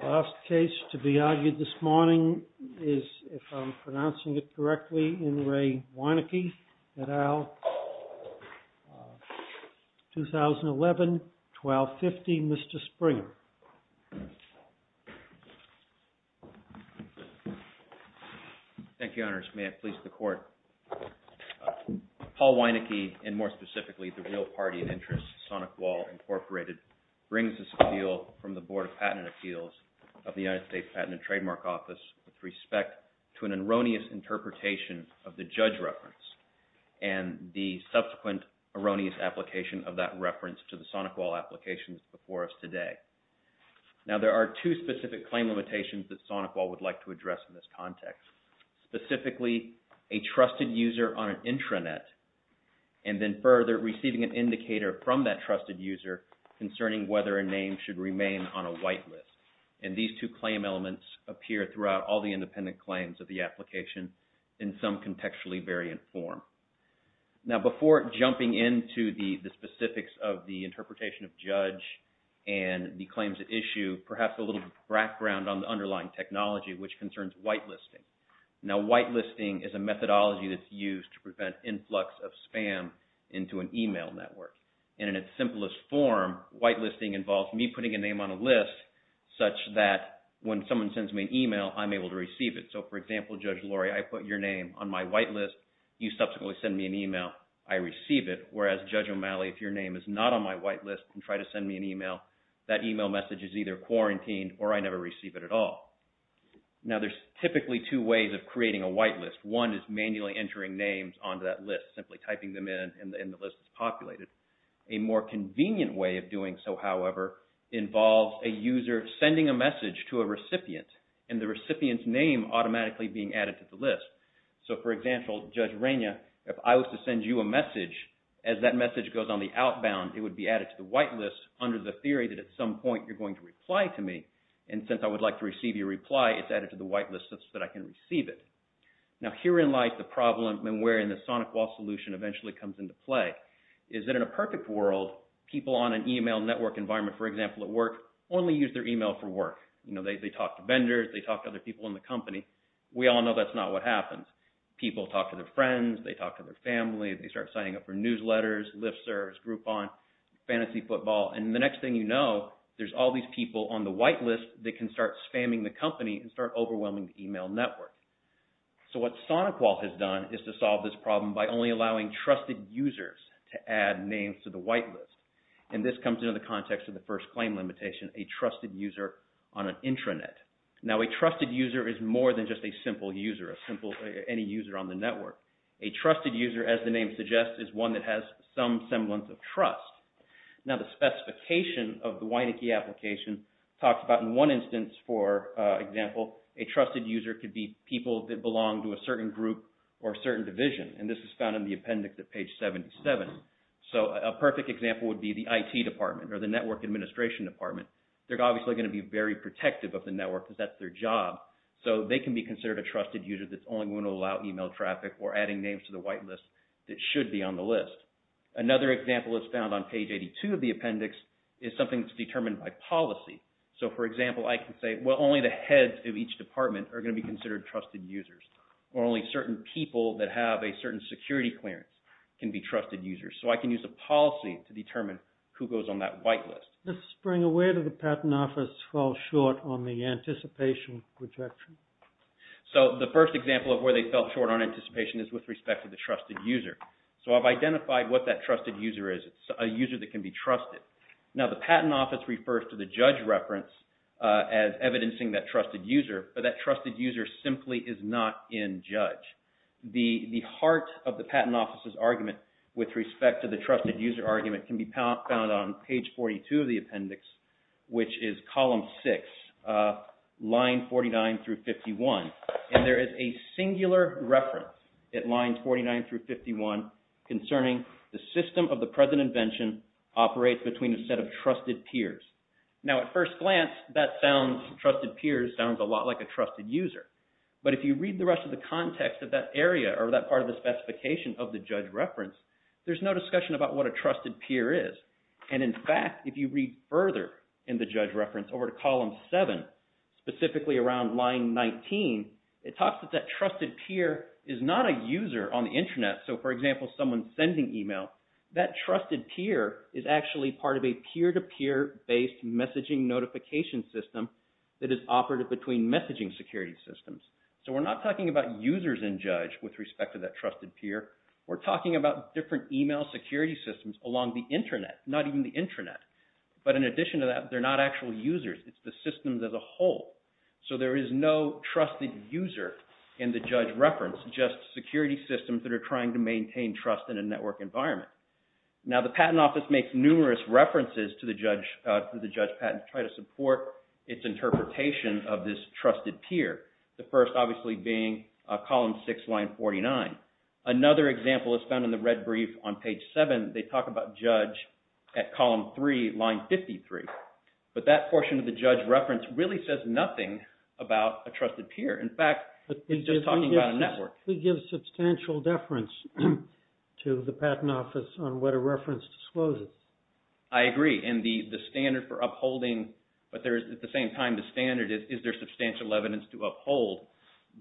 The last case to be argued this morning is, if I'm pronouncing it correctly, in Ray Wieneke et al., 2011, 1250. Mr. Springer. Thank you, Honors. May it please the Court. Paul Springer. Thank you, Your Honor. I would like to begin by saying that this is a case in which the legal party of interest, SonicWall, Inc., brings this appeal from the Board of Patent and Appeals of the United States Patent and Trademark Office with respect to an erroneous interpretation of the judge reference and the subsequent erroneous application of that reference to the SonicWall applications before us today. Now, there are two specific claim limitations that SonicWall would like to address in this context. Specifically, a trusted user on an intranet, and then further, receiving an indicator from that trusted user concerning whether a name should remain on a white list. And these two claim elements appear throughout all the independent claims of the application in some contextually variant form. Now, before jumping into the specifics of the interpretation of judge and the claims at issue, perhaps a little background on the underlying technology, which concerns whitelisting. Now, whitelisting is a methodology that's used to prevent influx of spam into an email network. And in its simplest form, whitelisting involves me putting a name on a list such that when someone sends me an email, I'm able to receive it. So, for example, Judge Lori, I put your name on my whitelist. You subsequently send me an email. I receive it. Whereas, Judge O'Malley, if your name is not on my whitelist, you can try to send me an email. That email message is either quarantined or I never receive it at all. Now, there's typically two ways of creating a whitelist. One is manually entering names onto that list, simply typing them in and the list is populated. A more convenient way of doing so, however, involves a user sending a message to a recipient and the recipient's name automatically being added to the list. So, for example, Judge Raina, if I was to send you a message, as that message goes on the outbound, it would be added to the whitelist under the theory that at some point you're going to reply to me. And since I would like to receive your reply, it's added to the whitelist such that I can receive it. Now, herein lies the problem and where the SonicWall solution eventually comes into play, is that in a perfect world, people on an email network environment, for example, at work, only use their email for work. They talk to vendors, they talk to other people in the company. We all know that's not what happens. People talk to their friends, they talk to their family, they start signing up for newsletters, Lyft serves, Groupon, Fantasy Football. And the next thing you know, there's all these people on the whitelist that can start spamming the company and start overwhelming the email network. So, what SonicWall has done is to solve this problem by only allowing trusted users to add names to the whitelist. And this comes into the context of the first claim limitation, a trusted user on an intranet. Now, a trusted user is more than just a simple user, a simple, any user on the network. A trusted user, as the name suggests, is one that has some semblance of trust. Now, the specification of the Wynikey application talks about in one instance, for example, a trusted user could be people that belong to a certain group or a certain division. And this is found in the appendix at page seventy-seven. So, a perfect example would be the IT department or the network administration department. They're obviously gonna be very protective of the network because that's their job. So, they can be considered a trusted user that's only gonna allow email traffic or adding names to the whitelist that should be on the list. Another example that's found on page eighty-two of the appendix is something that's determined by policy. So, for example, I can say, well, only the heads of each department are gonna be considered trusted users. Or only certain people that have a certain security clearance can be trusted users. So, I can use a policy to determine who goes on that whitelist. Mr. Springer, where do the patent office fall short on the anticipation projection? So, the first example of where they fell short on anticipation is with respect to the trusted user. So, I've identified what that trusted user is. It's a user that can be trusted. Now, the patent office refers to the judge reference as evidencing that trusted user. But that trusted user simply is not in judge. The heart of the patent office's argument with respect to the trusted user argument can be found on page forty-two of the appendix, which is column six, line forty-nine through fifty-one. And there is a singular reference at line forty-nine through fifty-one concerning the system of the present invention operates between a set of trusted peers. Now, at first glance, that sounds, trusted peers, sounds a lot like a trusted user. But if you read the rest of the context of that area or that part of the specification of the judge reference, there's no discussion about what a trusted peer is. And in fact, if you read further in the judge reference over to column seven, specifically around line nineteen, it talks about that trusted peer is not a user on the internet. So, for example, it's a user-based messaging notification system that is operative between messaging security systems. So, we're not talking about users in judge with respect to that trusted peer. We're talking about different email security systems along the internet, not even the intranet. But in addition to that, they're not actual users. It's the systems as a whole. So, there is no trusted user in the judge reference, just security systems that are trying to maintain trust in a network environment. Now, the patent office makes numerous references to the judge patent to try to support its interpretation of this trusted peer. The first, obviously, being column six, line forty-nine. Another example is found in the red brief on page seven. They talk about judge at column three, line fifty-three. But that portion of the judge reference really says nothing about a trusted peer. In fact, it's just talking about a network. It gives substantial deference to the patent office on what a reference discloses. I agree. And the standard for upholding, but there is, at the same time, the standard is, is there substantial evidence to uphold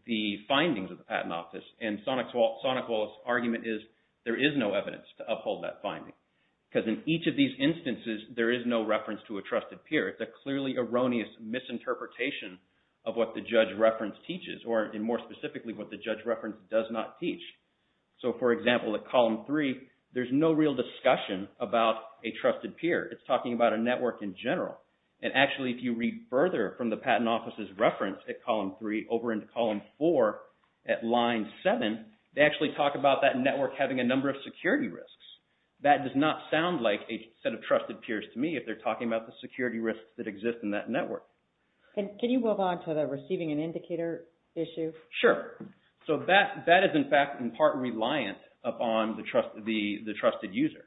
the findings of the patent office? And Sonic Wallace's argument is there is no evidence to uphold that finding. Because in each of these instances, there is no reference to a trusted peer. It's a clearly erroneous misinterpretation of what the judge reference teaches, or more specifically, what the judge reference does not teach. So, for example, at column three, there's no real discussion about a trusted peer. It's talking about a network in general. And actually, if you read further from the patent office's reference at column three over into column four at line seven, they actually talk about that network having a number of security risks. That does not sound like a set of trusted peers to me if they're talking about the security risks that exist in that network. Can you move on to the receiving an indicator issue? Sure. So that is, in fact, in part, reliant upon the trusted user.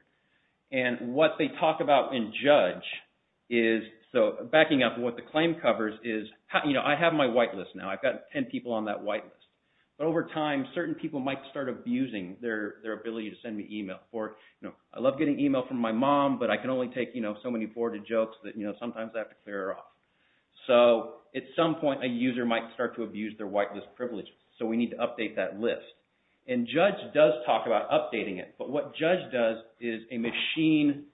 And what they talk about in judge is, so backing up what the claim covers is, you know, I have my whitelist now. I've got ten people on that whitelist. But over time, certain people might start abusing their ability to send me email. Or, you know, I love getting email from my mom, but I can only take, you know, so many forwarded jokes that, you know, sometimes I have to update that list. And judge does talk about updating it. But what judge does is a machine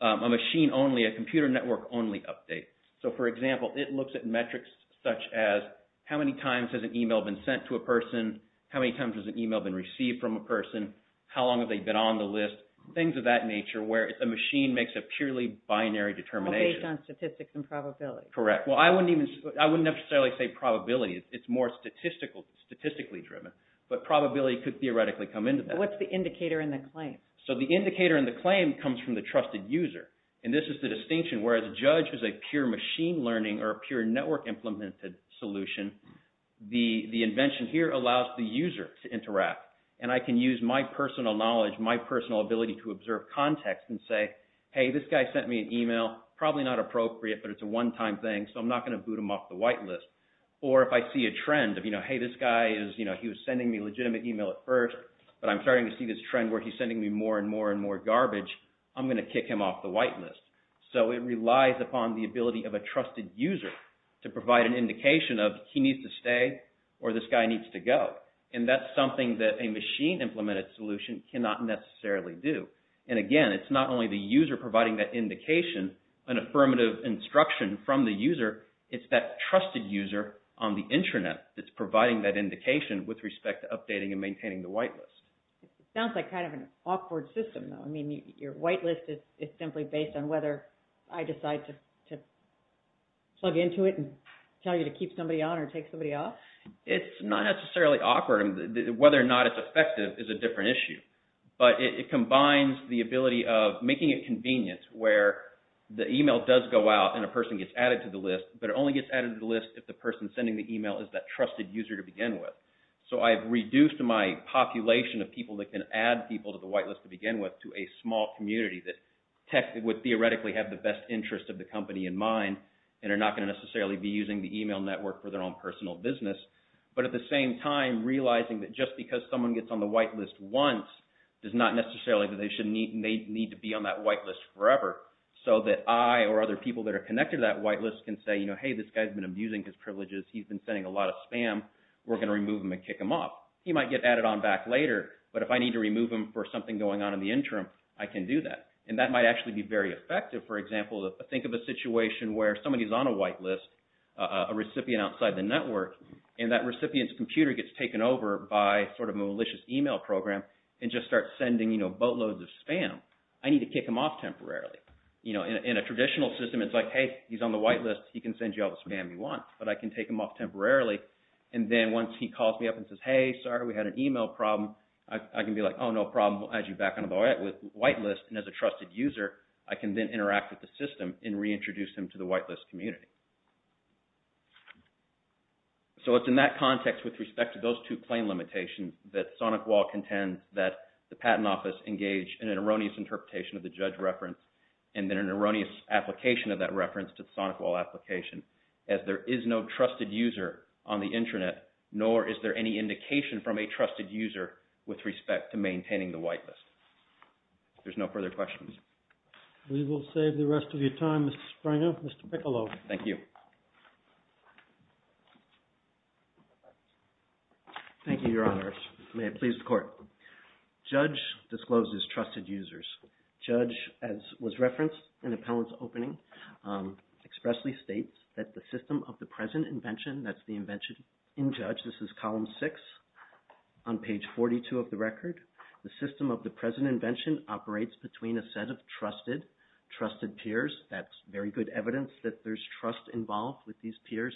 only, a computer network only update. So, for example, it looks at metrics such as how many times has an email been sent to a person? How many times has an email been received from a person? How long have they been on the list? Things of that nature where a machine makes a purely binary determination. All based on statistics and probability. Correct. Well, I wouldn't necessarily say probability. It's more statistically driven. But probability could theoretically come into that. What's the indicator in the claim? So the indicator in the claim comes from the trusted user. And this is the distinction where the judge is a pure machine learning or a pure network implemented solution. The invention here allows the user to interact. And I can use my personal knowledge, my personal ability to observe context and say, hey, this guy sent me an email. Probably not appropriate, but it's a one time thing. So I'm not gonna boot him off the white list. Or if I see a trend of, you know, hey, this guy is, you know, he was sending me a legitimate email at first. But I'm starting to see this trend where he's sending me more and more and more garbage. I'm gonna kick him off the white list. So it relies upon the ability of a trusted user to provide an indication of he needs to stay or this guy needs to go. And that's something that a machine implemented solution cannot necessarily do. And again, it's not only the user providing that indication, an affirmative instruction from the user, it's that trusted user on the intranet that's providing that indication with respect to updating and maintaining the white list. Sounds like kind of an awkward system though. I mean, your white list is simply based on whether I decide to plug into it and tell you to keep somebody on or take somebody off? It's not necessarily awkward. Whether or not it's effective is a different issue. But it is making it convenient where the email does go out and a person gets added to the list, but it only gets added to the list if the person sending the email is that trusted user to begin with. So, I've reduced my population of people that can add people to the white list to begin with to a small community that would theoretically have the best interest of the company in mind and are not gonna necessarily be using the email network for their own personal business. But at the same time, realizing that just because someone gets on the white list once does not necessarily mean that they need to be on that white list forever so that I or other people that are connected to that white list can say, you know, hey, this guy's been abusing his privileges. He's been sending a lot of spam. We're gonna remove him and kick him off. He might get added on back later, but if I need to remove him for something going on in the interim, I can do that. And that might actually be very effective. For example, think of a situation where somebody's on a white list, a recipient outside the program, and just starts sending, you know, boatloads of spam. I need to kick him off temporarily. You know, in a traditional system, it's like, hey, he's on the white list, he can send you all the spam you want, but I can take him off temporarily. And then once he calls me up and says, hey, sorry, we had an email problem, I can be like, oh, no problem, we'll add you back on the white list. And as a trusted user, I can then interact with the system and reintroduce him to the white list community. So it's in that context with respect to those two claim limitations that SonicWall contends that the Patent Office engaged in an erroneous interpretation of the judge reference, and then an erroneous application of that reference to the SonicWall application, as there is no trusted user on the intranet, nor is there any indication from a trusted user with respect to maintaining the white list. There's no further questions. We will save the rest of your time, Mr. Springer. Mr. Piccolo. Thank you. Thank you, Your Honors. May it please the Court. Judge discloses trusted users. Judge, as was referenced in the panel's opening, expressly states that the system of the present invention, that's the invention in Judge, this is column 6 on page 42 of the record, the system of the present invention operates between a set of trusted peers. That's very good evidence that there's trust involved with these peers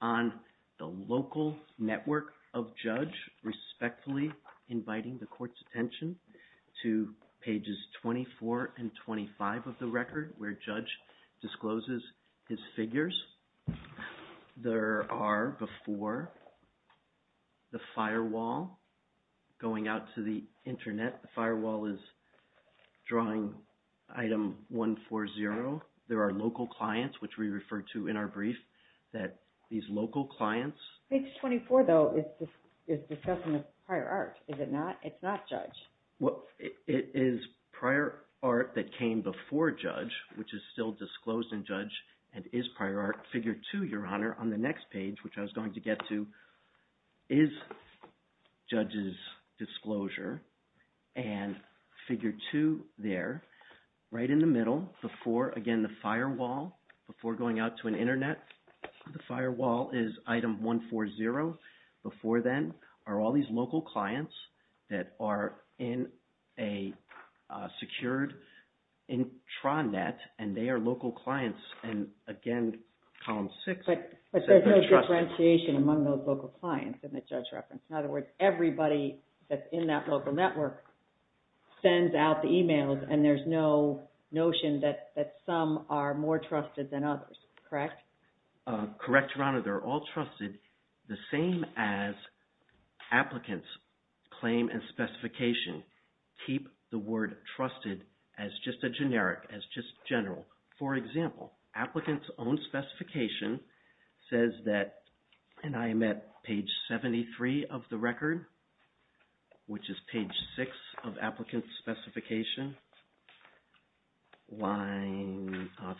on the local network of Judge, respectfully inviting the Court's attention to pages 24 and 25 of the record, where Judge discloses his figures. There are, before the firewall going out to the intranet, the firewall is drawing item 140. There are local clients, which we referred to in our brief, that these local clients... Page 24, though, is discussing a prior art. Is it not? It's not Judge. Well, it is prior art that came before Judge, which is still disclosed in Judge, and is prior art figure 2, Your Honor, on the next page, which I was going to get to. Is Judge's disclosure and figure 2 there, right in the middle, before, again, the firewall, before going out to an intranet, the firewall is item 140. Before then are all these local clients that are in a secured intranet, and they are local clients, and again, column 6... But there's no differentiation among those local clients in the Judge reference. In other words, everybody that's in that local network sends out the emails and there's no notion that some are more trusted than others, correct? Correct, Your Honor. They're all trusted the same as applicants' claim and specification keep the word trusted as just a generic, as just general. For example, applicants' own specification says that, and I am at page 73 of the record, which is page 6 of applicants' specification,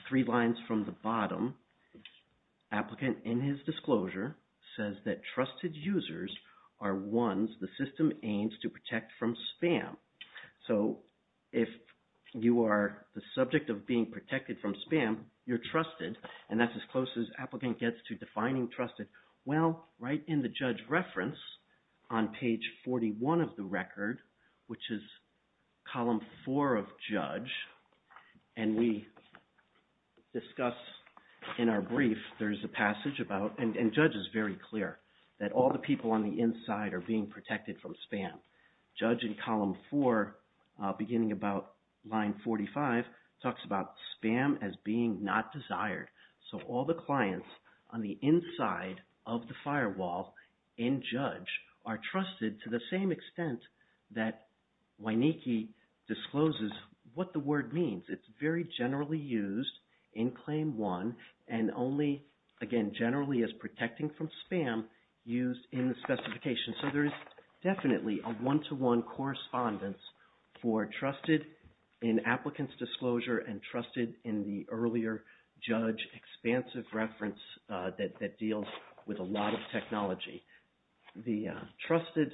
three lines from the bottom. Applicant, in his disclosure, says that trusted users are ones the system aims to protect from spam. So, if you are the subject of being protected from spam, you're trusted, and that's as close as applicant gets to defining trusted. Well, right in the Judge reference, on page 41 of the record, which is column 4 of Judge, and we discuss in our brief, there's a passage about, and Judge is very clear, that all the people on the inside are being protected from spam. Judge in column 4, beginning about line 45, talks about spam as being not desired. So, all the clients on the inside of the firewall in Judge are trusted to the same extent that Wyniecki discloses what the word means. It's very generally used in Claim 1, and only, again, generally as protecting from spam used in the specification. So, there is definitely a one-to-one correspondence for trusted in applicant's disclosure and trusted in the earlier Judge expansive reference that deals with a lot of technology. The trusted,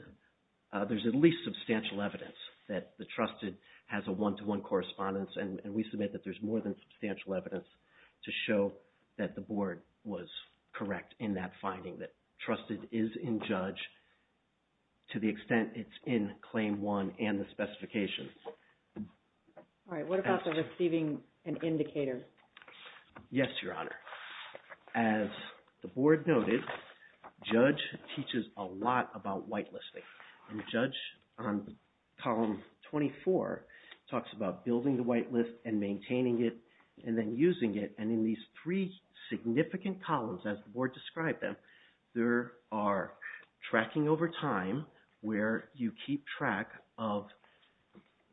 there's at least substantial evidence that the trusted has a one-to-one correspondence, and we submit that there's more than substantial evidence to show that the Board was correct in that finding, that trusted is in Judge to the extent it's in the specifications. All right, what about the receiving an indicator? Yes, Your Honor. As the Board noted, Judge teaches a lot about whitelisting, and Judge on column 24 talks about building the whitelist and maintaining it and then using it, and in these three significant columns, as the Board described them, there are tracking over time, where you keep track of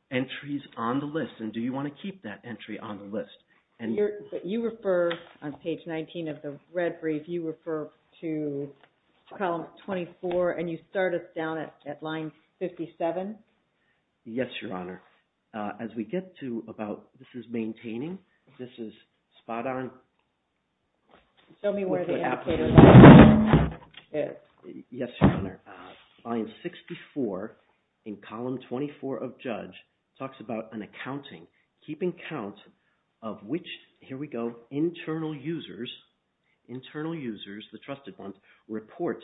entries on the list and do you want to keep that entry on the list. You refer on page 19 of the red brief, you refer to column 24, and you start us down at line 57? Yes, Your Honor. As we get to about, this is maintaining, this is spot on. Show me where the indicator is. Yes, Your Honor. Line 64 in column 24 of Judge talks about an accounting, keeping count of which here we go, internal users, internal users, the trusted ones, report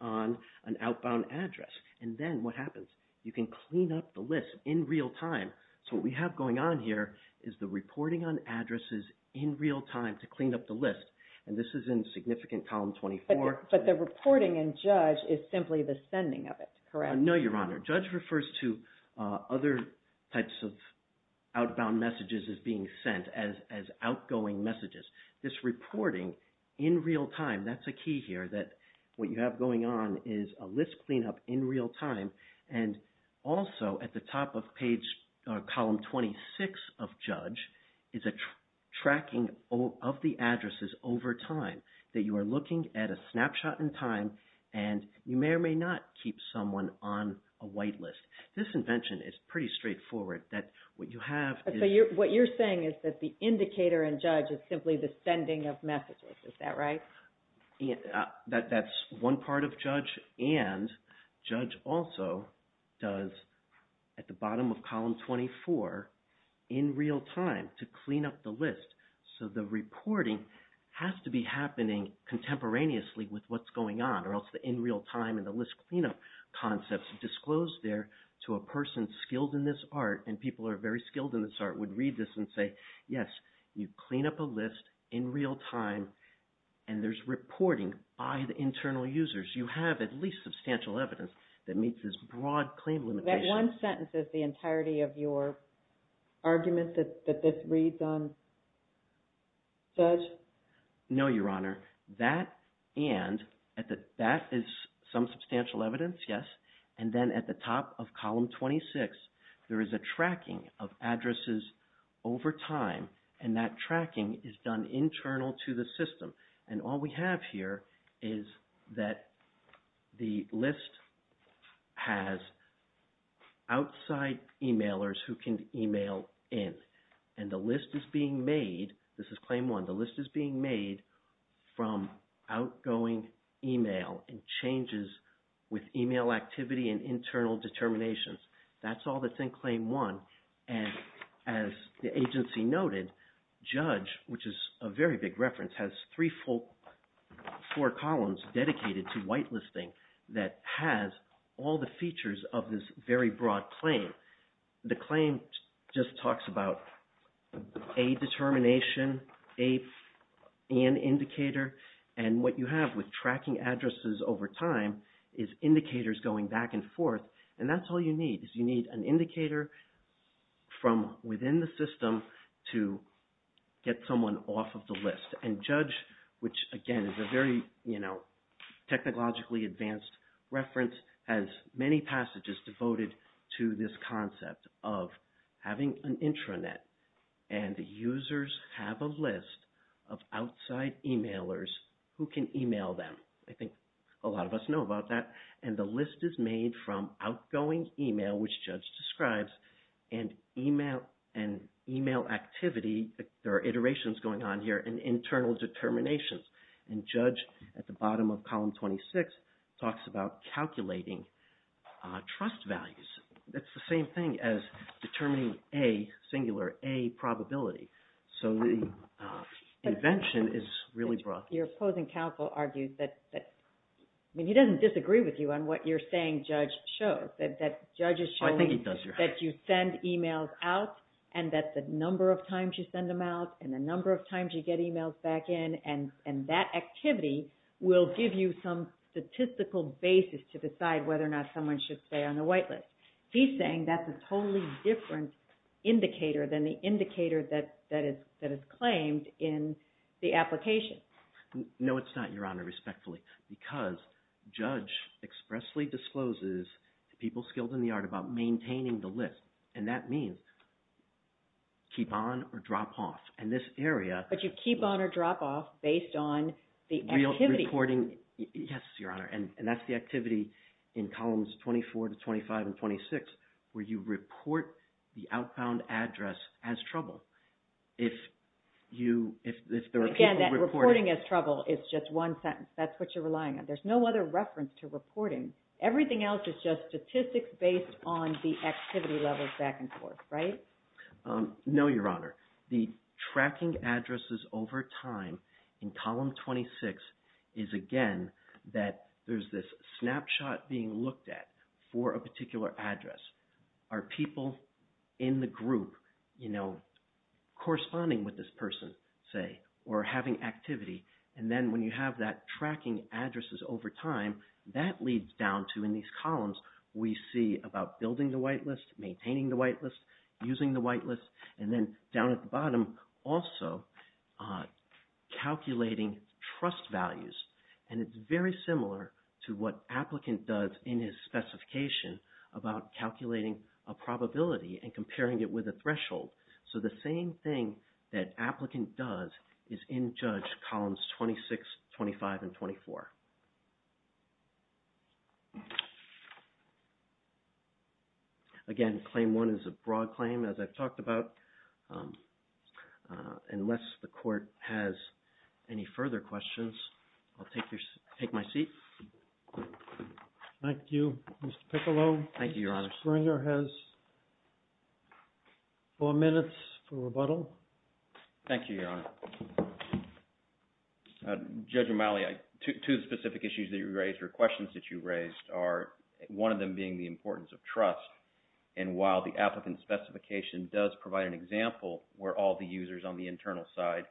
on an outbound address, and then what happens? You can clean up the list in real time. So what we have going on here is the reporting on addresses in real time to clean up the list, and this is in significant column 24. But the reporting in Judge is simply the sending of it, correct? No, Your Honor. Judge refers to other types of outbound messages as being sent as outgoing messages. This reporting in real time, that's a key here, that what you have going on is a list cleanup in real time, and also at the top of page, column 26 of Judge is a tracking of the addresses over time. That you are looking at a snapshot in time, and you may or may not keep someone on a whitelist. This invention is pretty straightforward. That what you have... What you're saying is that the indicator in Judge is simply the sending of messages, is that right? That's one part of Judge, and Judge also does, at the bottom of column 24, in real time to clean up the list. So the reporting has to be happening contemporaneously with what's going on, or else the in real time and the list cleanup concepts disclosed there to a person skilled in this art, and people who are very skilled in this art would read this and say, yes, you clean up a list in real time, and there's reporting by the internal users. You have at least substantial evidence that meets this broad claim limitation. That one sentence is the entirety of your argument that this reads on Judge? No, Your Honor. That and, that is some substantial evidence, yes, and then at the top of column 26 there is a tracking of addresses over time, and that tracking is done internal to the system, and all we have here is that the list has outside emailers who can email in, and the list is being made this is Claim 1, the list is being made from outgoing email and changes with email activity and internal determinations. That's all that's in Claim 1, and as the agency noted, Judge, which is a very big reference, has three full, four columns dedicated to whitelisting that has all the features of this very broad claim. The claim just talks about a determination, an indicator, and what you have with tracking addresses over time is indicators going back and forth, and that's all you need is you need an indicator from within the system to get someone off of the list, and Judge, which again is a very technologically advanced reference has many passages devoted to this concept of having an intranet, and the users have a list of outside emailers who can email them. I think a lot of us know about that, and the list is made from outgoing email, which Judge describes, and email activity, there are iterations going on here, and internal determinations, and Judge at the bottom of column 26 talks about calculating trust values. That's the same thing as determining a singular, a probability. So the invention is really broad. Your opposing counsel argues that, I mean he doesn't disagree with you on what you're saying Judge shows, that Judge is showing that you send emails out, and that the number of times you send them out and the number of times you get emails back in, and that activity will give you some statistical basis to decide whether or not someone should stay on the whitelist. He's saying that's a totally different indicator than the indicator that is claimed in the application. No it's not, Your Honor, respectfully. Because Judge expressly discloses to people skilled in the art about maintaining the list, and that means keep on or drop off, and this area... But you keep on or drop off based on the activity. Yes, Your Honor, and that's the activity in columns 24 to 25 and 26, where you report the outbound address as trouble. If there are people reporting... Again, that reporting as trouble is just one sentence. That's what you're relying on. There's no other reference to reporting. Everything else is just statistics based on the activity levels back and forth, right? No, Your Honor. The tracking addresses over time in column 26 is again that there's this snapshot being looked at for a particular address. Are people in the group corresponding with this person, say, or having activity? And then when you have that tracking addresses over time, that leads down to, in these columns, we see about building the whitelist, maintaining the whitelist, using the whitelist, and then down at the bottom also calculating trust values. And it's very similar to what applicant does in his specification about calculating a probability and comparing it with a threshold. So the same thing that applicant does is in Judge columns 26, 25, and 24. Again, Claim 1 is a unless the court has any further questions, I'll take my seat. Thank you, Mr. Piccolo. Thank you, Your Honor. Mr. Springer has four minutes for rebuttal. Thank you, Your Honor. Judge O'Malley, two specific issues that you raised or questions that you raised are that the TCCM specification does provide an example where all the users on the internal side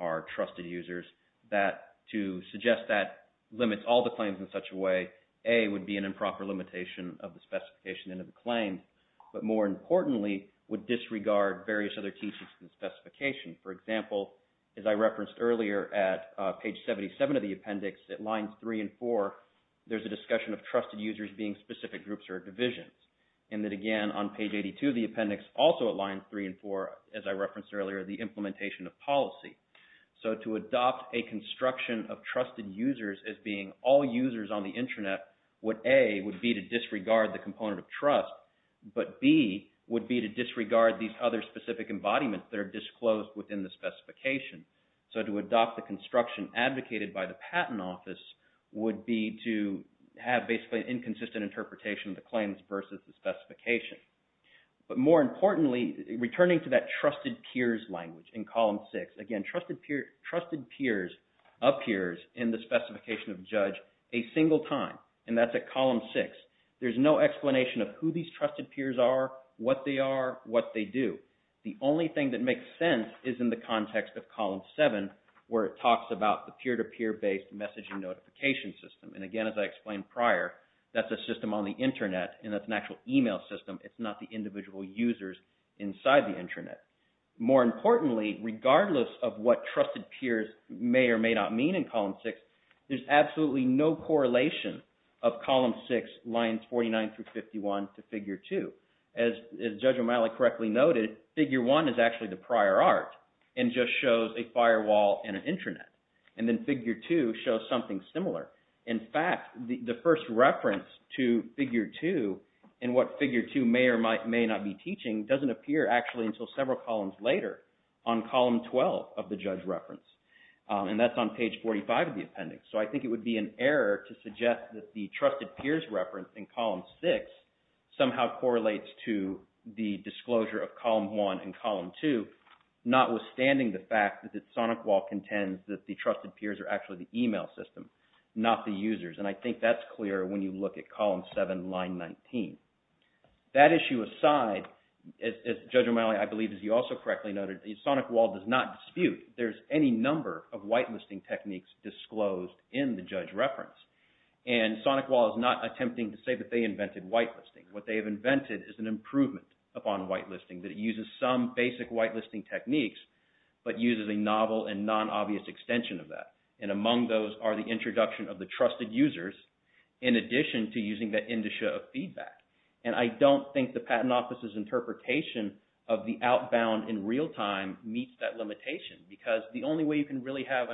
are trusted users that to suggest that limits all the claims in such a way, A, would be an improper limitation of the specification and of the claim, but more importantly, would disregard various other TCCM specifications. For example, as I referenced earlier at page 77 of the appendix, at lines 3 and 4, there's a discussion of trusted users being specific groups or divisions. And then again, on page 82 of the appendix, also at lines 3 and 4, as I referenced earlier, the implementation of policy. So to adopt a construction of trusted users as being all users on the intranet, would A, would be to disregard the component of trust, but B, would be to disregard these other specific embodiments that are disclosed within the specification. So to adopt the construction advocated by the Patent Office would be to have basically an inconsistent interpretation of the claims versus the specification. But more importantly, returning to that trusted peers language in column 6, again, trusted peers of peers in the specification of judge a single time. And that's at column 6. There's no explanation of who these trusted peers are, what they are, what they do. The only thing that makes sense is in the context of column 7 where it talks about the peer-to-peer based messaging notification system. And again, as I explained prior, that's a system on the intranet and that's an actual email system. It's not the individual users inside the intranet. More importantly, regardless of what trusted peers may or may not mean in column 6, there's absolutely no correlation of column 6 lines 49 through 51 to figure 2. As Judge O'Malley correctly noted, figure 1 is actually the prior art and just shows a firewall and an intranet. And then figure 2 shows something similar. In fact, the first reference to figure 2 and what figure 2 may or may not be teaching doesn't appear actually until several columns later on column 12 of the judge reference. And that's on page 45 of the appendix. So I think it would be an error to suggest that the trusted peers reference in column 6 somehow correlates to the disclosure of column 1 and column 2, notwithstanding the fact that SonicWall contends that the trusted peers are actually the email system, not the users. And I think that's clear when you look at column 7, line 19. That issue aside, Judge O'Malley, I believe as you also correctly noted, SonicWall does not dispute. There's any number of whitelisting techniques disclosed in the judge reference. And SonicWall is not attempting to say that they invented whitelisting. What they have invented is an improvement upon whitelisting. That it uses some basic whitelisting techniques but uses a novel and non-obvious extension of that. And among those are the introduction of the trusted users in addition to using that indicia of feedback. And I don't think the Patent Office's interpretation of the outbound in real time meets that limitation. Because the only way you can really have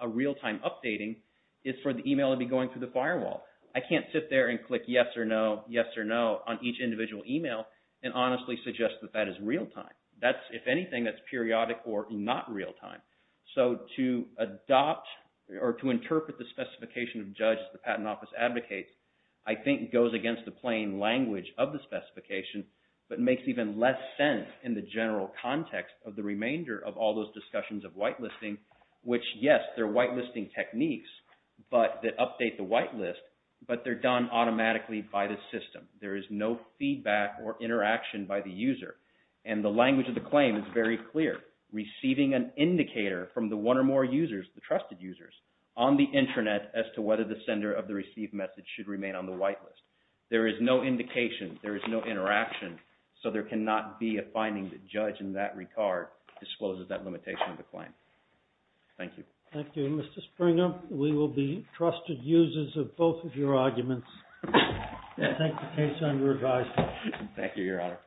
a real time updating is for the email to be going through the firewall. I can't sit there and click yes or no, yes or no, on each individual email and honestly suggest that that is real time. That's, if anything, that's periodic or not real time. So to adopt or to interpret the specification of judges the Patent Office advocates, I think goes against the plain language of the specification but makes even less sense in the general context of the remainder of all those discussions of whitelisting, which yes, they're whitelisting techniques that update the whitelist but they're done automatically by the system. There is no feedback or interaction by the user. And the language of the claim is very clear. Receiving an indicator from the one or more users, the trusted users, on the intranet as to whether the sender of the received message should remain on the whitelist. There is no indication. There is no interaction. So there cannot be a finding that judge in that regard discloses that limitation of the claim. Thank you. Thank you. Mr. Springer, we will be trusted users of both of your arguments. I take the case under advisement. Thank you, Your Honor.